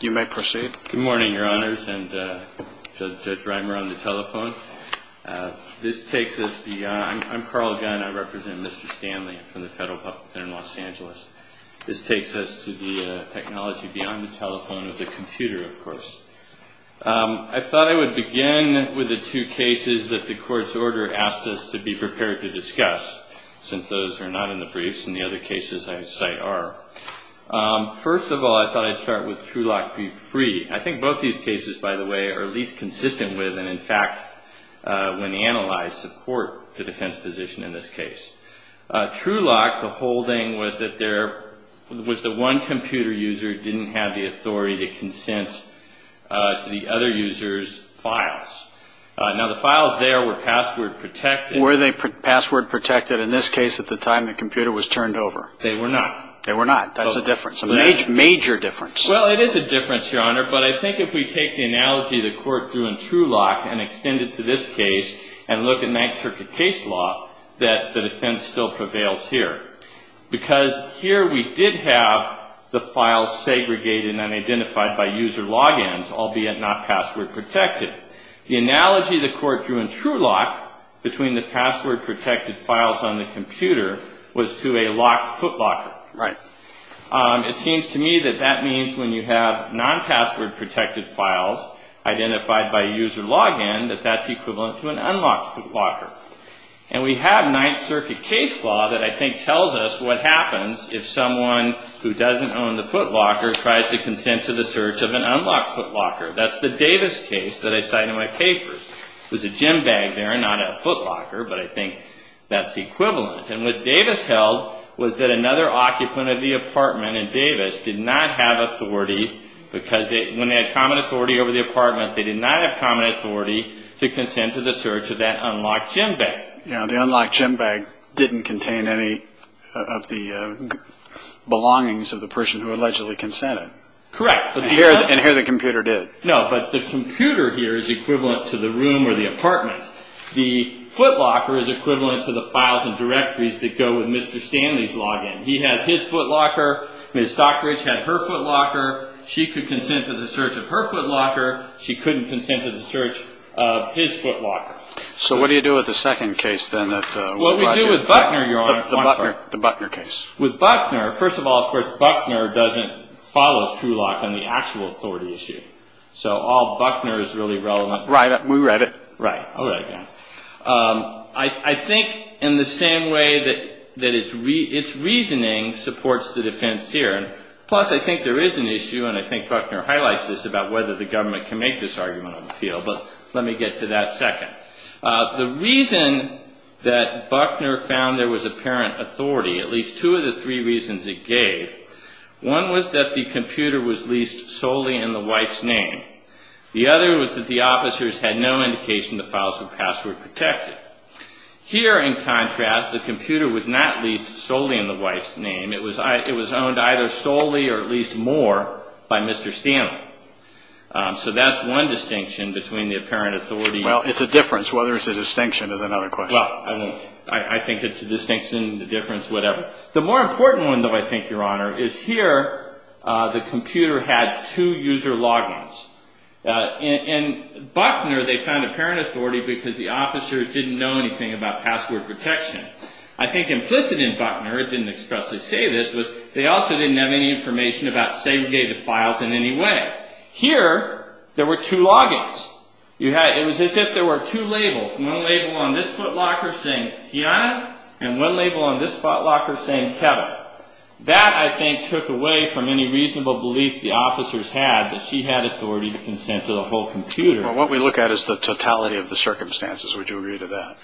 Good morning, your honors, and Judge Reimer on the telephone. This takes us beyond, I'm Carl Gunn, I represent Mr. Stanley from the federal public defender in Los Angeles. This takes us to the technology beyond the telephone of the computer, of course. I thought I would begin with the two cases that the court's order asked us to be prepared to discuss, since those are not in the briefs and the other cases I cite are. First of all, I thought I'd start with Truelock v. Free. I think both these cases, by the way, are at least consistent with, and in fact, when analyzed, support the defense position in this case. Truelock, the whole thing was that one computer user didn't have the authority to consent to the other user's files. Now, the files there were password protected. Were they password protected in this case at the time the computer was turned over? They were not. They were not. That's a difference, a major difference. Well, it is a difference, your honor, but I think if we take the analogy the court drew in Truelock and extend it to this case and look at 9th Circuit case law, that the defense still prevails here, because here we did have the files segregated and unidentified by user logins, albeit not password protected. The analogy the court drew in Truelock between the password protected files on the computer was to a locked footlocker. Right. It seems to me that that means when you have non-password protected files identified by user login, that that's equivalent to an unlocked footlocker. And we have 9th Circuit case law that I think tells us what happens if someone who doesn't own the footlocker tries to consent to the search of an unlocked footlocker. That's the Davis case that I cite in my papers. There's a gym bag there, not a footlocker, but I think that's equivalent. And what Davis held was that another occupant of the apartment in Davis did not have authority, because when they had common authority over the apartment, they did not have common authority to consent to the search of that unlocked gym bag. Yeah, the unlocked gym bag didn't contain any of the belongings of the person who allegedly consented. Correct. And here the computer did. No, but the computer here is equivalent to the room or the apartment. The footlocker is equivalent to the files and directories that go with Mr. Stanley's login. He has his footlocker. Ms. Stockbridge had her footlocker. She could consent to the search of her footlocker. She couldn't consent to the search of his footlocker. So what do you do with the second case, then? What we do with Buckner, Your Honor. The Buckner case. With Buckner, first of all, of course, Buckner doesn't follow Truelock on the actual authority issue. So all Buckner is really relevant. Right. We read it. Right. I'll write it down. I think in the same way that its reasoning supports the defense here. Plus, I think there is an issue, and I think Buckner highlights this, about whether the government can make this argument on the field. But let me get to that second. The reason that Buckner found there was apparent authority, at least two of the three reasons it gave, one was that the computer was leased solely in the wife's name. The other was that the officers had no indication the files were password protected. Here, in contrast, the computer was not leased solely in the wife's name. It was owned either solely or at least more by Mr. Stanley. So that's one distinction between the apparent authority. Well, it's a difference. Whether it's a distinction is another question. Well, I think it's a distinction, a difference, whatever. The more important one, though, I think, Your Honor, is here the computer had two user log-ins. In Buckner, they found apparent authority because the officers didn't know anything about password protection. I think implicit in Buckner, it didn't expressly say this, was they also didn't have any information about segregated files in any way. Here, there were two log-ins. It was as if there were two labels, one label on this footlocker saying Tiana, and one label on this footlocker saying Kevin. That, I think, took away from any reasonable belief the officers had that she had authority to consent to the whole computer. Well, what we look at is the totality of the circumstances. Would you agree to that?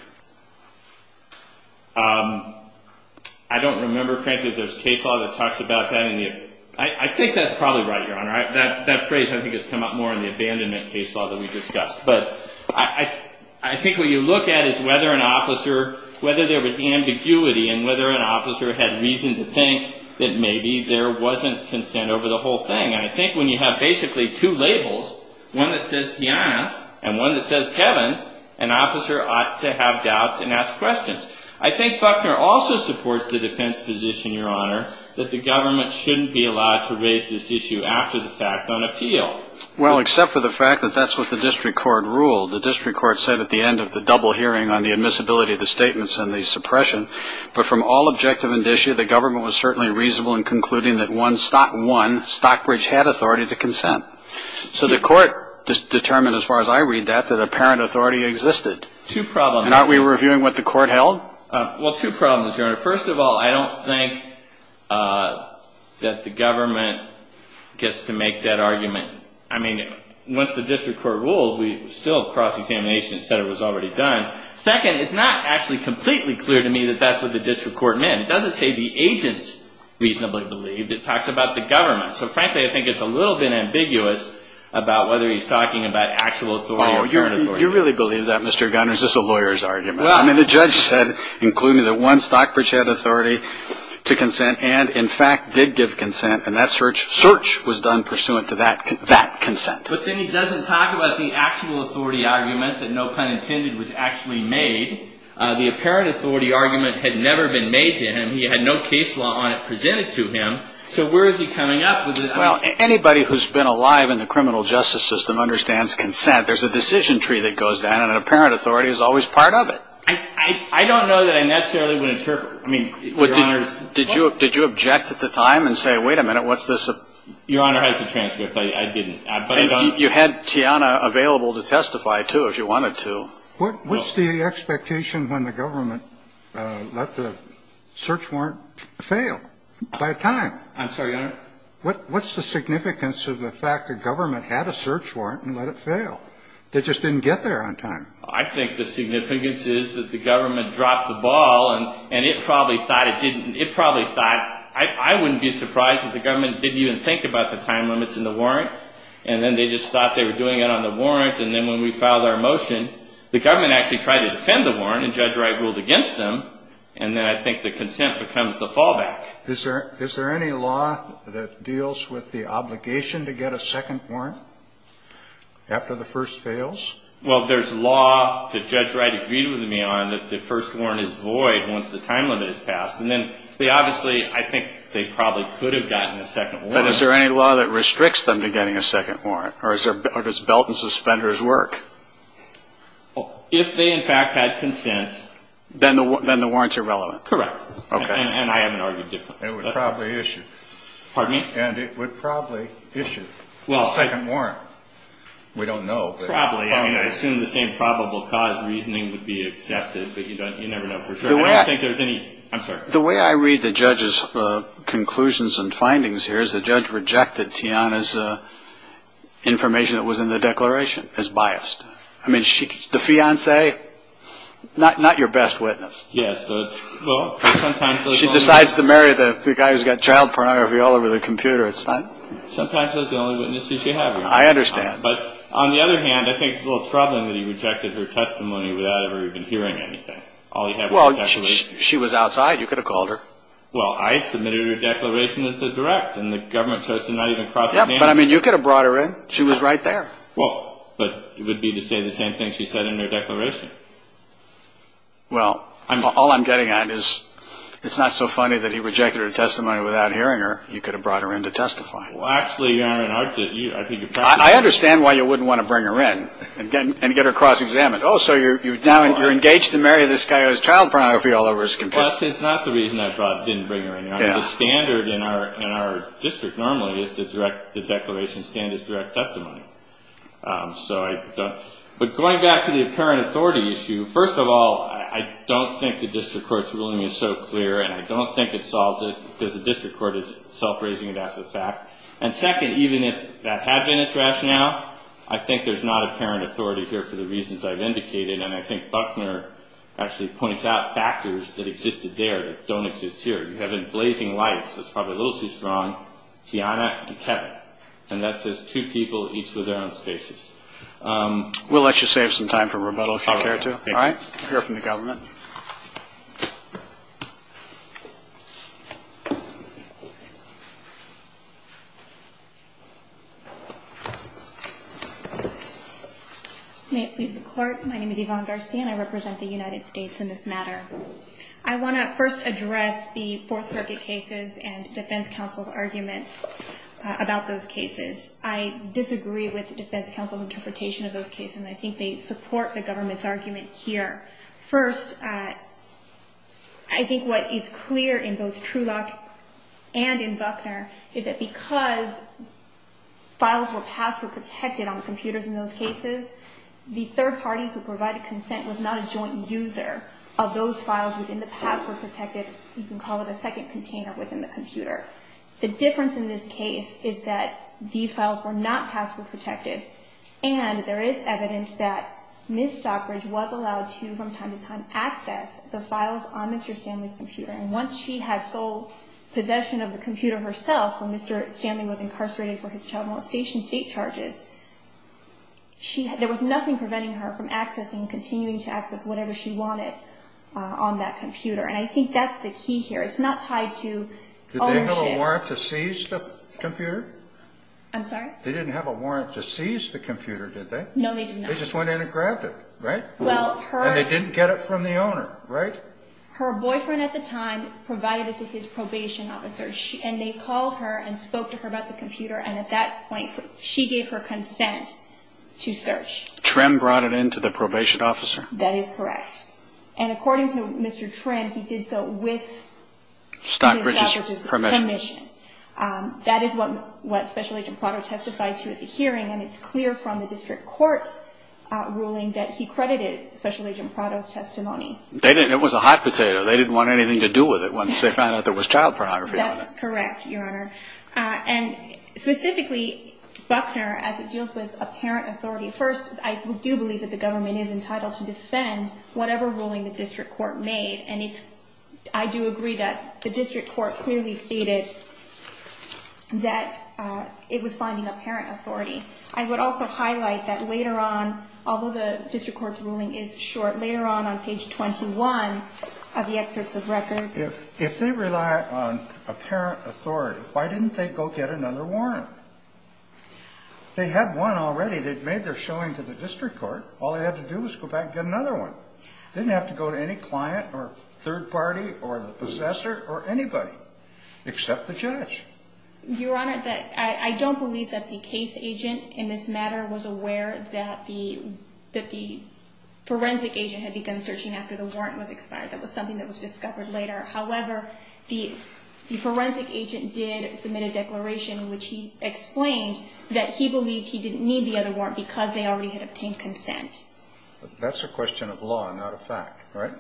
I don't remember, frankly, if there's case law that talks about that. I think that's probably right, Your Honor. That phrase, I think, has come up more in the abandonment case law that we discussed. But I think what you look at is whether an officer, whether there was ambiguity and whether an officer had reason to think that maybe there wasn't consent over the whole thing. And I think when you have basically two labels, one that says Tiana and one that says Kevin, an officer ought to have doubts and ask questions. I think Buckner also supports the defense position, Your Honor, that the government shouldn't be allowed to raise this issue after the fact on appeal. Well, except for the fact that that's what the district court ruled. The district court said at the end of the double hearing on the admissibility of the statements and the suppression. But from all objective indicia, the government was certainly reasonable in concluding that one, Stockbridge had authority to consent. So the court determined, as far as I read that, that apparent authority existed. Two problems. And aren't we reviewing what the court held? Well, two problems, Your Honor. First of all, I don't think that the government gets to make that argument. I mean, once the district court ruled, we still cross-examination said it was already done. Second, it's not actually completely clear to me that that's what the district court meant. It doesn't say the agents reasonably believed. It talks about the government. So frankly, I think it's a little bit ambiguous about whether he's talking about actual authority or apparent authority. You really believe that, Mr. Gunner? Is this a lawyer's argument? I mean, the judge said, including that one, Stockbridge had authority to consent and, in fact, did give consent. And that search was done pursuant to that consent. But then he doesn't talk about the actual authority argument that, no pun intended, was actually made. The apparent authority argument had never been made to him. He had no case law on it presented to him. So where is he coming up with it? Well, anybody who's been alive in the criminal justice system understands consent. I don't know that I necessarily would interpret. I mean, Your Honor's point. Did you object at the time and say, wait a minute, what's this? Your Honor has the transcript. I didn't. But I don't. You had Tiana available to testify, too, if you wanted to. What's the expectation when the government let the search warrant fail by a time? I'm sorry, Your Honor? What's the significance of the fact the government had a search warrant and let it fail? They just didn't get there on time. I think the significance is that the government dropped the ball, and it probably thought it didn't. It probably thought. I wouldn't be surprised if the government didn't even think about the time limits in the warrant. And then they just thought they were doing it on the warrants. And then when we filed our motion, the government actually tried to defend the warrant, and Judge Wright ruled against them. And then I think the consent becomes the fallback. Is there any law that deals with the obligation to get a second warrant after the first fails? Well, there's law that Judge Wright agreed with me on that the first warrant is void once the time limit is passed. And then they obviously, I think they probably could have gotten a second warrant. But is there any law that restricts them to getting a second warrant? Or does belt and suspenders work? If they, in fact, had consent. Then the warrants are relevant. Correct. Okay. And I haven't argued differently. It would probably issue. Pardon me? And it would probably issue a second warrant. We don't know. Probably. I mean, I assume the same probable cause reasoning would be accepted, but you never know for sure. I don't think there's any. I'm sorry. The way I read the judge's conclusions and findings here is the judge rejected Tiana's information that was in the declaration as biased. I mean, the fiancé, not your best witness. Yes. Well, sometimes. She decides to marry the guy who's got child pornography all over the computer. It's not. Sometimes that's the only witness she should have. I understand. But on the other hand, I think it's a little troubling that he rejected her testimony without ever even hearing anything. All he had was the declaration. Well, she was outside. You could have called her. Well, I submitted her declaration as the direct. And the government chose to not even cross his hand. Yeah, but I mean, you could have brought her in. She was right there. Well, but it would be to say the same thing she said in her declaration. Well, all I'm getting at is it's not so funny that he rejected her testimony without hearing her. You could have brought her in to testify. Well, actually, Your Honor, I think you're practicing. I understand why you wouldn't want to bring her in and get her cross-examined. Oh, so you're engaged to marry this guy who has child pornography all over his computer. Well, that's not the reason I didn't bring her in. The standard in our district normally is the declaration standard is direct testimony. But going back to the apparent authority issue, first of all, I don't think the district court's ruling is so clear. And I don't think it solves it because the district court is self-raising it as a fact. And second, even if that had been its rationale, I think there's not apparent authority here for the reasons I've indicated. And I think Buckner actually points out factors that existed there that don't exist here. You have in blazing lights, that's probably a little too strong, Tiana and Kevin. And that says two people each with their own spaces. We'll let you save some time for rebuttal if you care to. All right. We'll hear from the government. May it please the Court. My name is Yvonne Garcia and I represent the United States in this matter. I want to first address the Fourth Circuit cases and defense counsel's arguments about those cases. I disagree with the defense counsel's interpretation of those cases and I think they support the government's argument here. First, I think what is clear in both Truelock and in Buckner is that because files were passed or protected on computers in those cases, the third party who provided consent was not a joint user of those files within the password protected, you can call it a second container within the computer. The difference in this case is that these files were not password protected. And there is evidence that Ms. Stockbridge was allowed to, from time to time, access the files on Mr. Stanley's computer. And once she had sole possession of the computer herself when Mr. Stanley was incarcerated for his child molestation state charges, there was nothing preventing her from accessing, continuing to access whatever she wanted on that computer. And I think that's the key here. It's not tied to ownership. Did they have a warrant to seize the computer? I'm sorry? They didn't have a warrant to seize the computer, did they? No, they did not. They just went in and grabbed it, right? And they didn't get it from the owner, right? Her boyfriend at the time provided it to his probation officer and they called her and spoke to her about the computer and at that point she gave her consent to search. Trim brought it in to the probation officer? That is correct. And according to Mr. Trim, he did so with Ms. Stockbridge's permission. That is what Special Agent Prado testified to at the hearing, and it's clear from the district court's ruling that he credited Special Agent Prado's testimony. It was a hot potato. They didn't want anything to do with it once they found out there was child pornography on it. That's correct, Your Honor. And specifically, Buckner, as it deals with apparent authority, first I do believe that the government is entitled to defend whatever ruling the district court made, and I do agree that the district court clearly stated that it was finding apparent authority. I would also highlight that later on, although the district court's ruling is short, later on on page 21 of the excerpts of record. If they rely on apparent authority, why didn't they go get another warrant? They had one already. They'd made their showing to the district court. All they had to do was go back and get another one. They didn't have to go to any client or third party or the possessor or anybody except the judge. Your Honor, I don't believe that the case agent in this matter was aware that the forensic agent had begun searching after the warrant was expired. That was something that was discovered later. However, the forensic agent did submit a declaration, which he explained, that he believed he didn't need the other warrant because they already had obtained consent. That's a question of law, not a fact, right?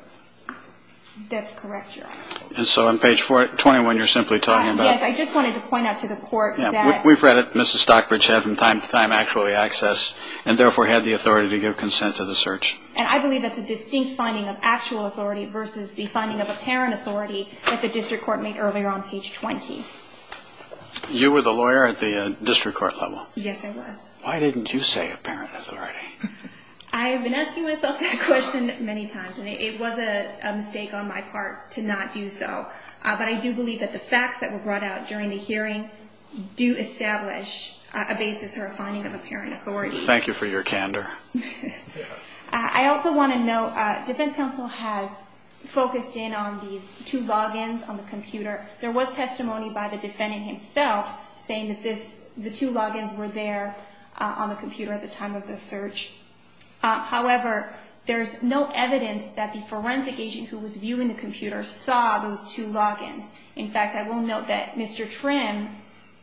That's correct, Your Honor. And so on page 21, you're simply talking about? Yes, I just wanted to point out to the court that. We've read it. Mrs. Stockbridge had from time to time actually access and therefore had the authority to give consent to the search. And I believe that's a distinct finding of actual authority versus the finding of apparent authority that the district court made earlier on page 20. You were the lawyer at the district court level? Yes, I was. Why didn't you say apparent authority? I have been asking myself that question many times, and it was a mistake on my part to not do so. But I do believe that the facts that were brought out during the hearing do establish a basis or a finding of apparent authority. Thank you for your candor. I also want to note Defense Counsel has focused in on these two logins on the computer. There was testimony by the defendant himself saying that the two logins were there on the computer at the time of the search. However, there's no evidence that the forensic agent who was viewing the computer saw those two logins. In fact, I will note that Mr. Trim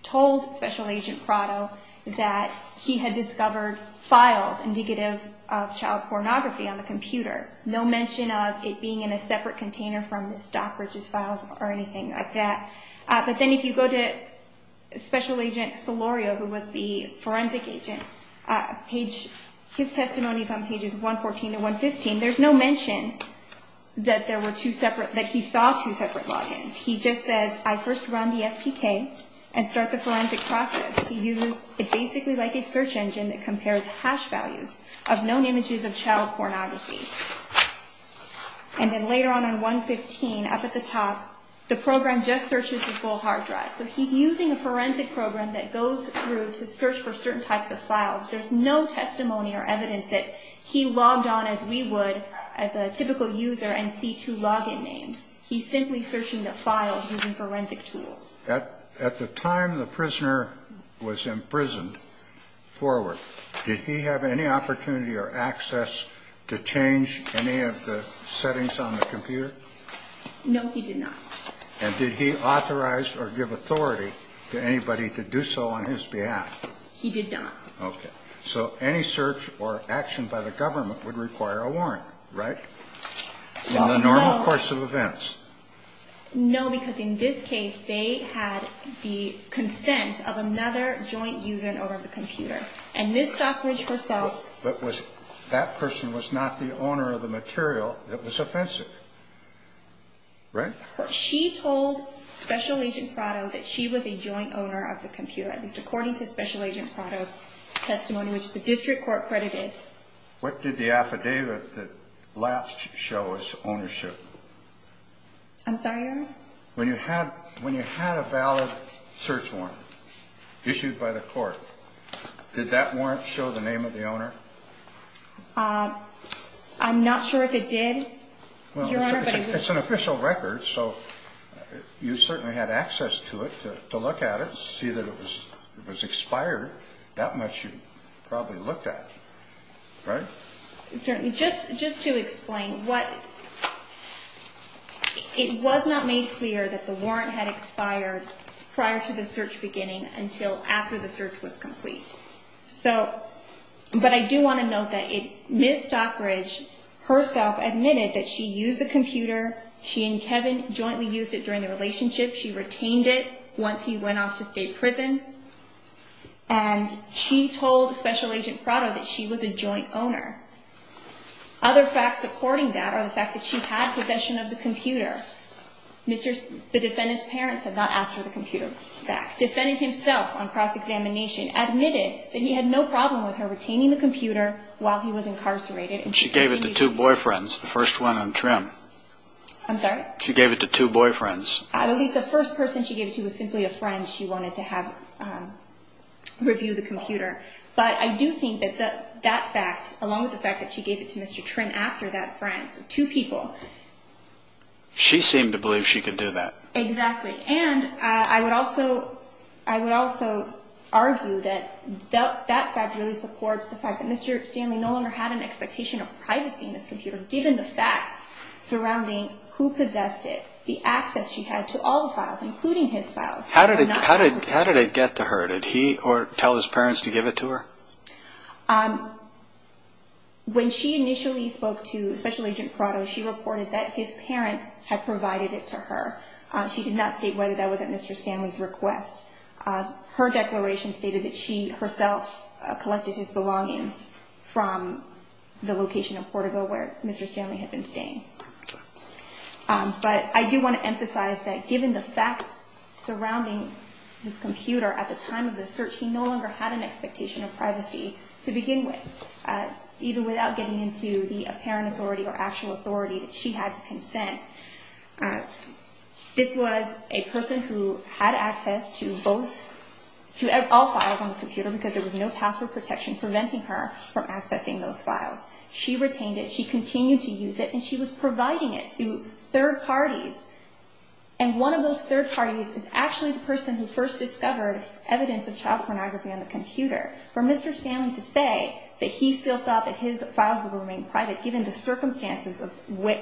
told Special Agent Prado that he had discovered files indicative of child pornography on the computer, no mention of it being in a separate container from Ms. Stockbridge's files or anything like that. But then if you go to Special Agent Solorio, who was the forensic agent, his testimony is on pages 114 to 115. There's no mention that he saw two separate logins. He just says, I first run the FTK and start the forensic process. He uses it basically like a search engine that compares hash values of known images of child pornography. And then later on, on 115, up at the top, the program just searches the full hard drive. So he's using a forensic program that goes through to search for certain types of files. There's no testimony or evidence that he logged on as we would as a typical user and see two login names. He's simply searching the files using forensic tools. At the time the prisoner was imprisoned forward, did he have any opportunity or access to change any of the settings on the computer? No, he did not. And did he authorize or give authority to anybody to do so on his behalf? He did not. Okay. So any search or action by the government would require a warrant, right? In the normal course of events. No, because in this case, they had the consent of another joint user and owner of the computer. And Ms. Stockbridge herself. But that person was not the owner of the material that was offensive, right? She told Special Agent Prado that she was a joint owner of the computer, at least according to Special Agent Prado's testimony, which the district court credited. What did the affidavit that last show as ownership? I'm sorry, Your Honor? When you had a valid search warrant issued by the court, did that warrant show the name of the owner? I'm not sure if it did, Your Honor. It's an official record, so you certainly had access to it to look at it, and to see that it was expired, that much you probably looked at, right? Certainly. Just to explain, it was not made clear that the warrant had expired prior to the search beginning until after the search was complete. But I do want to note that Ms. Stockbridge herself admitted that she used the computer. She and Kevin jointly used it during the relationship. She retained it once he went off to state prison, and she told Special Agent Prado that she was a joint owner. Other facts supporting that are the fact that she had possession of the computer. The defendant's parents had not asked for the computer back. The defendant himself on cross-examination admitted that he had no problem with her retaining the computer while he was incarcerated. She gave it to two boyfriends, the first one on trim. I'm sorry? She gave it to two boyfriends. I believe the first person she gave it to was simply a friend she wanted to have review the computer. But I do think that that fact, along with the fact that she gave it to Mr. Trim after that friend, so two people. She seemed to believe she could do that. Exactly. And I would also argue that that fact really supports the fact that Mr. Stanley no longer had an expectation of privacy in this computer, given the facts surrounding who possessed it, the access she had to all the files, including his files. How did it get to her? Did he tell his parents to give it to her? When she initially spoke to Special Agent Prado, she reported that his parents had provided it to her. She did not state whether that was at Mr. Stanley's request. Her declaration stated that she herself collected his belongings from the location of Portico where Mr. Stanley had been staying. But I do want to emphasize that given the facts surrounding this computer at the time of the search, he no longer had an expectation of privacy to begin with, even without getting into the apparent authority or actual authority that she had to consent. This was a person who had access to all files on the computer because there was no password protection preventing her from accessing those files. She retained it, she continued to use it, and she was providing it to third parties. And one of those third parties is actually the person who first discovered evidence of child pornography on the computer. For Mr. Stanley to say that he still thought that his files would remain private given the circumstances of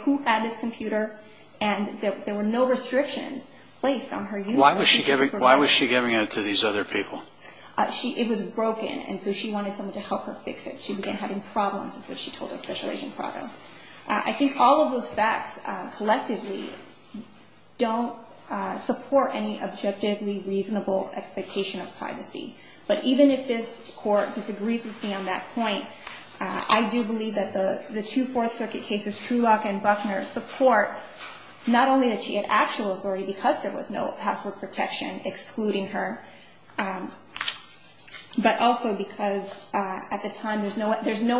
who had this computer and that there were no restrictions placed on her use of it. Why was she giving it to these other people? It was broken, and so she wanted someone to help her fix it. She began having problems, is what she told us, Special Agent Prado. I think all of those facts collectively don't support any objectively reasonable expectation of privacy. But even if this Court disagrees with me on that point, I do believe that the two Fourth Circuit cases, Trulock and Buckner, support not only that she had actual authority because there was no password protection excluding her, but also because at the time there's no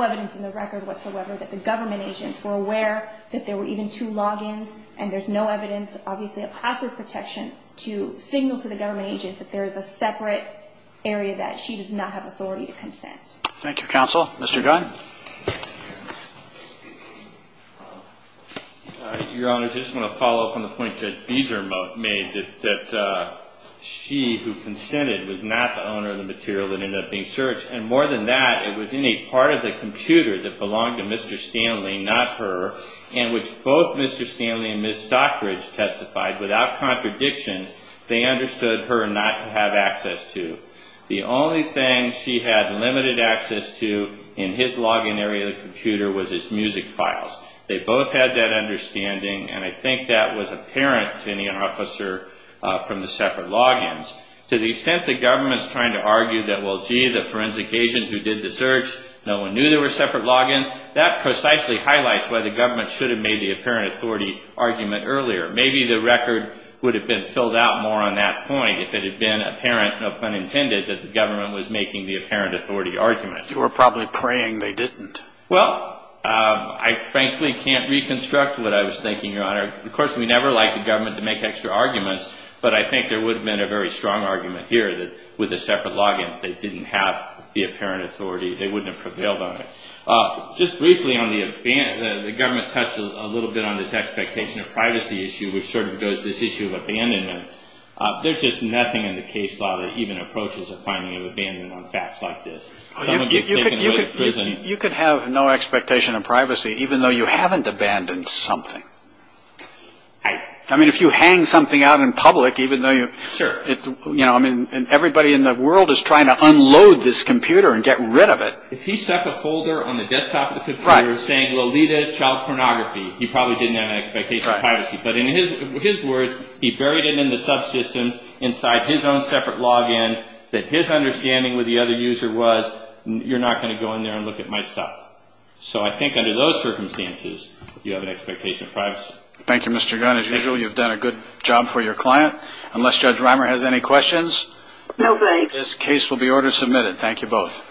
evidence in the record whatsoever that the government agents were aware that there were even two logins and there's no evidence, obviously, of password protection to signal to the government agents that there is a separate area that she does not have authority to consent. Thank you, Counsel. Mr. Gunn. Your Honor, I just want to follow up on the point that Beezer made, that she who consented was not the owner of the material that ended up being searched. And more than that, it was in a part of the computer that belonged to Mr. Stanley, not her, and which both Mr. Stanley and Ms. Stockbridge testified, without contradiction, they understood her not to have access to. The only thing she had limited access to in his login area of the computer was his music files. They both had that understanding, and I think that was apparent to any officer from the separate logins. To the extent the government's trying to argue that, well, gee, the forensic agent who did the search, no one knew there were separate logins, that precisely highlights why the government should have made the apparent authority argument earlier. Maybe the record would have been filled out more on that point if it had been apparent, no pun intended, that the government was making the apparent authority argument. They were probably praying they didn't. Well, I frankly can't reconstruct what I was thinking, Your Honor. Of course, we never like the government to make extra arguments, but I think there would have been a very strong argument here that with the separate logins they didn't have the apparent authority. They wouldn't have prevailed on it. Just briefly, the government touched a little bit on this expectation of privacy issue, which sort of goes to this issue of abandonment. There's just nothing in the case law that even approaches a finding of abandonment on facts like this. You could have no expectation of privacy even though you haven't abandoned something. I mean, if you hang something out in public, even though everybody in the world is trying to unload this computer and get rid of it. If he stuck a folder on the desktop of the computer saying Lolita child pornography, he probably didn't have an expectation of privacy. But in his words, he buried it in the subsystems inside his own separate login that his understanding with the other user was, you're not going to go in there and look at my stuff. So I think under those circumstances, you have an expectation of privacy. Thank you, Mr. Gunn. As usual, you've done a good job for your client. Unless Judge Reimer has any questions, this case will be order submitted. Thank you both.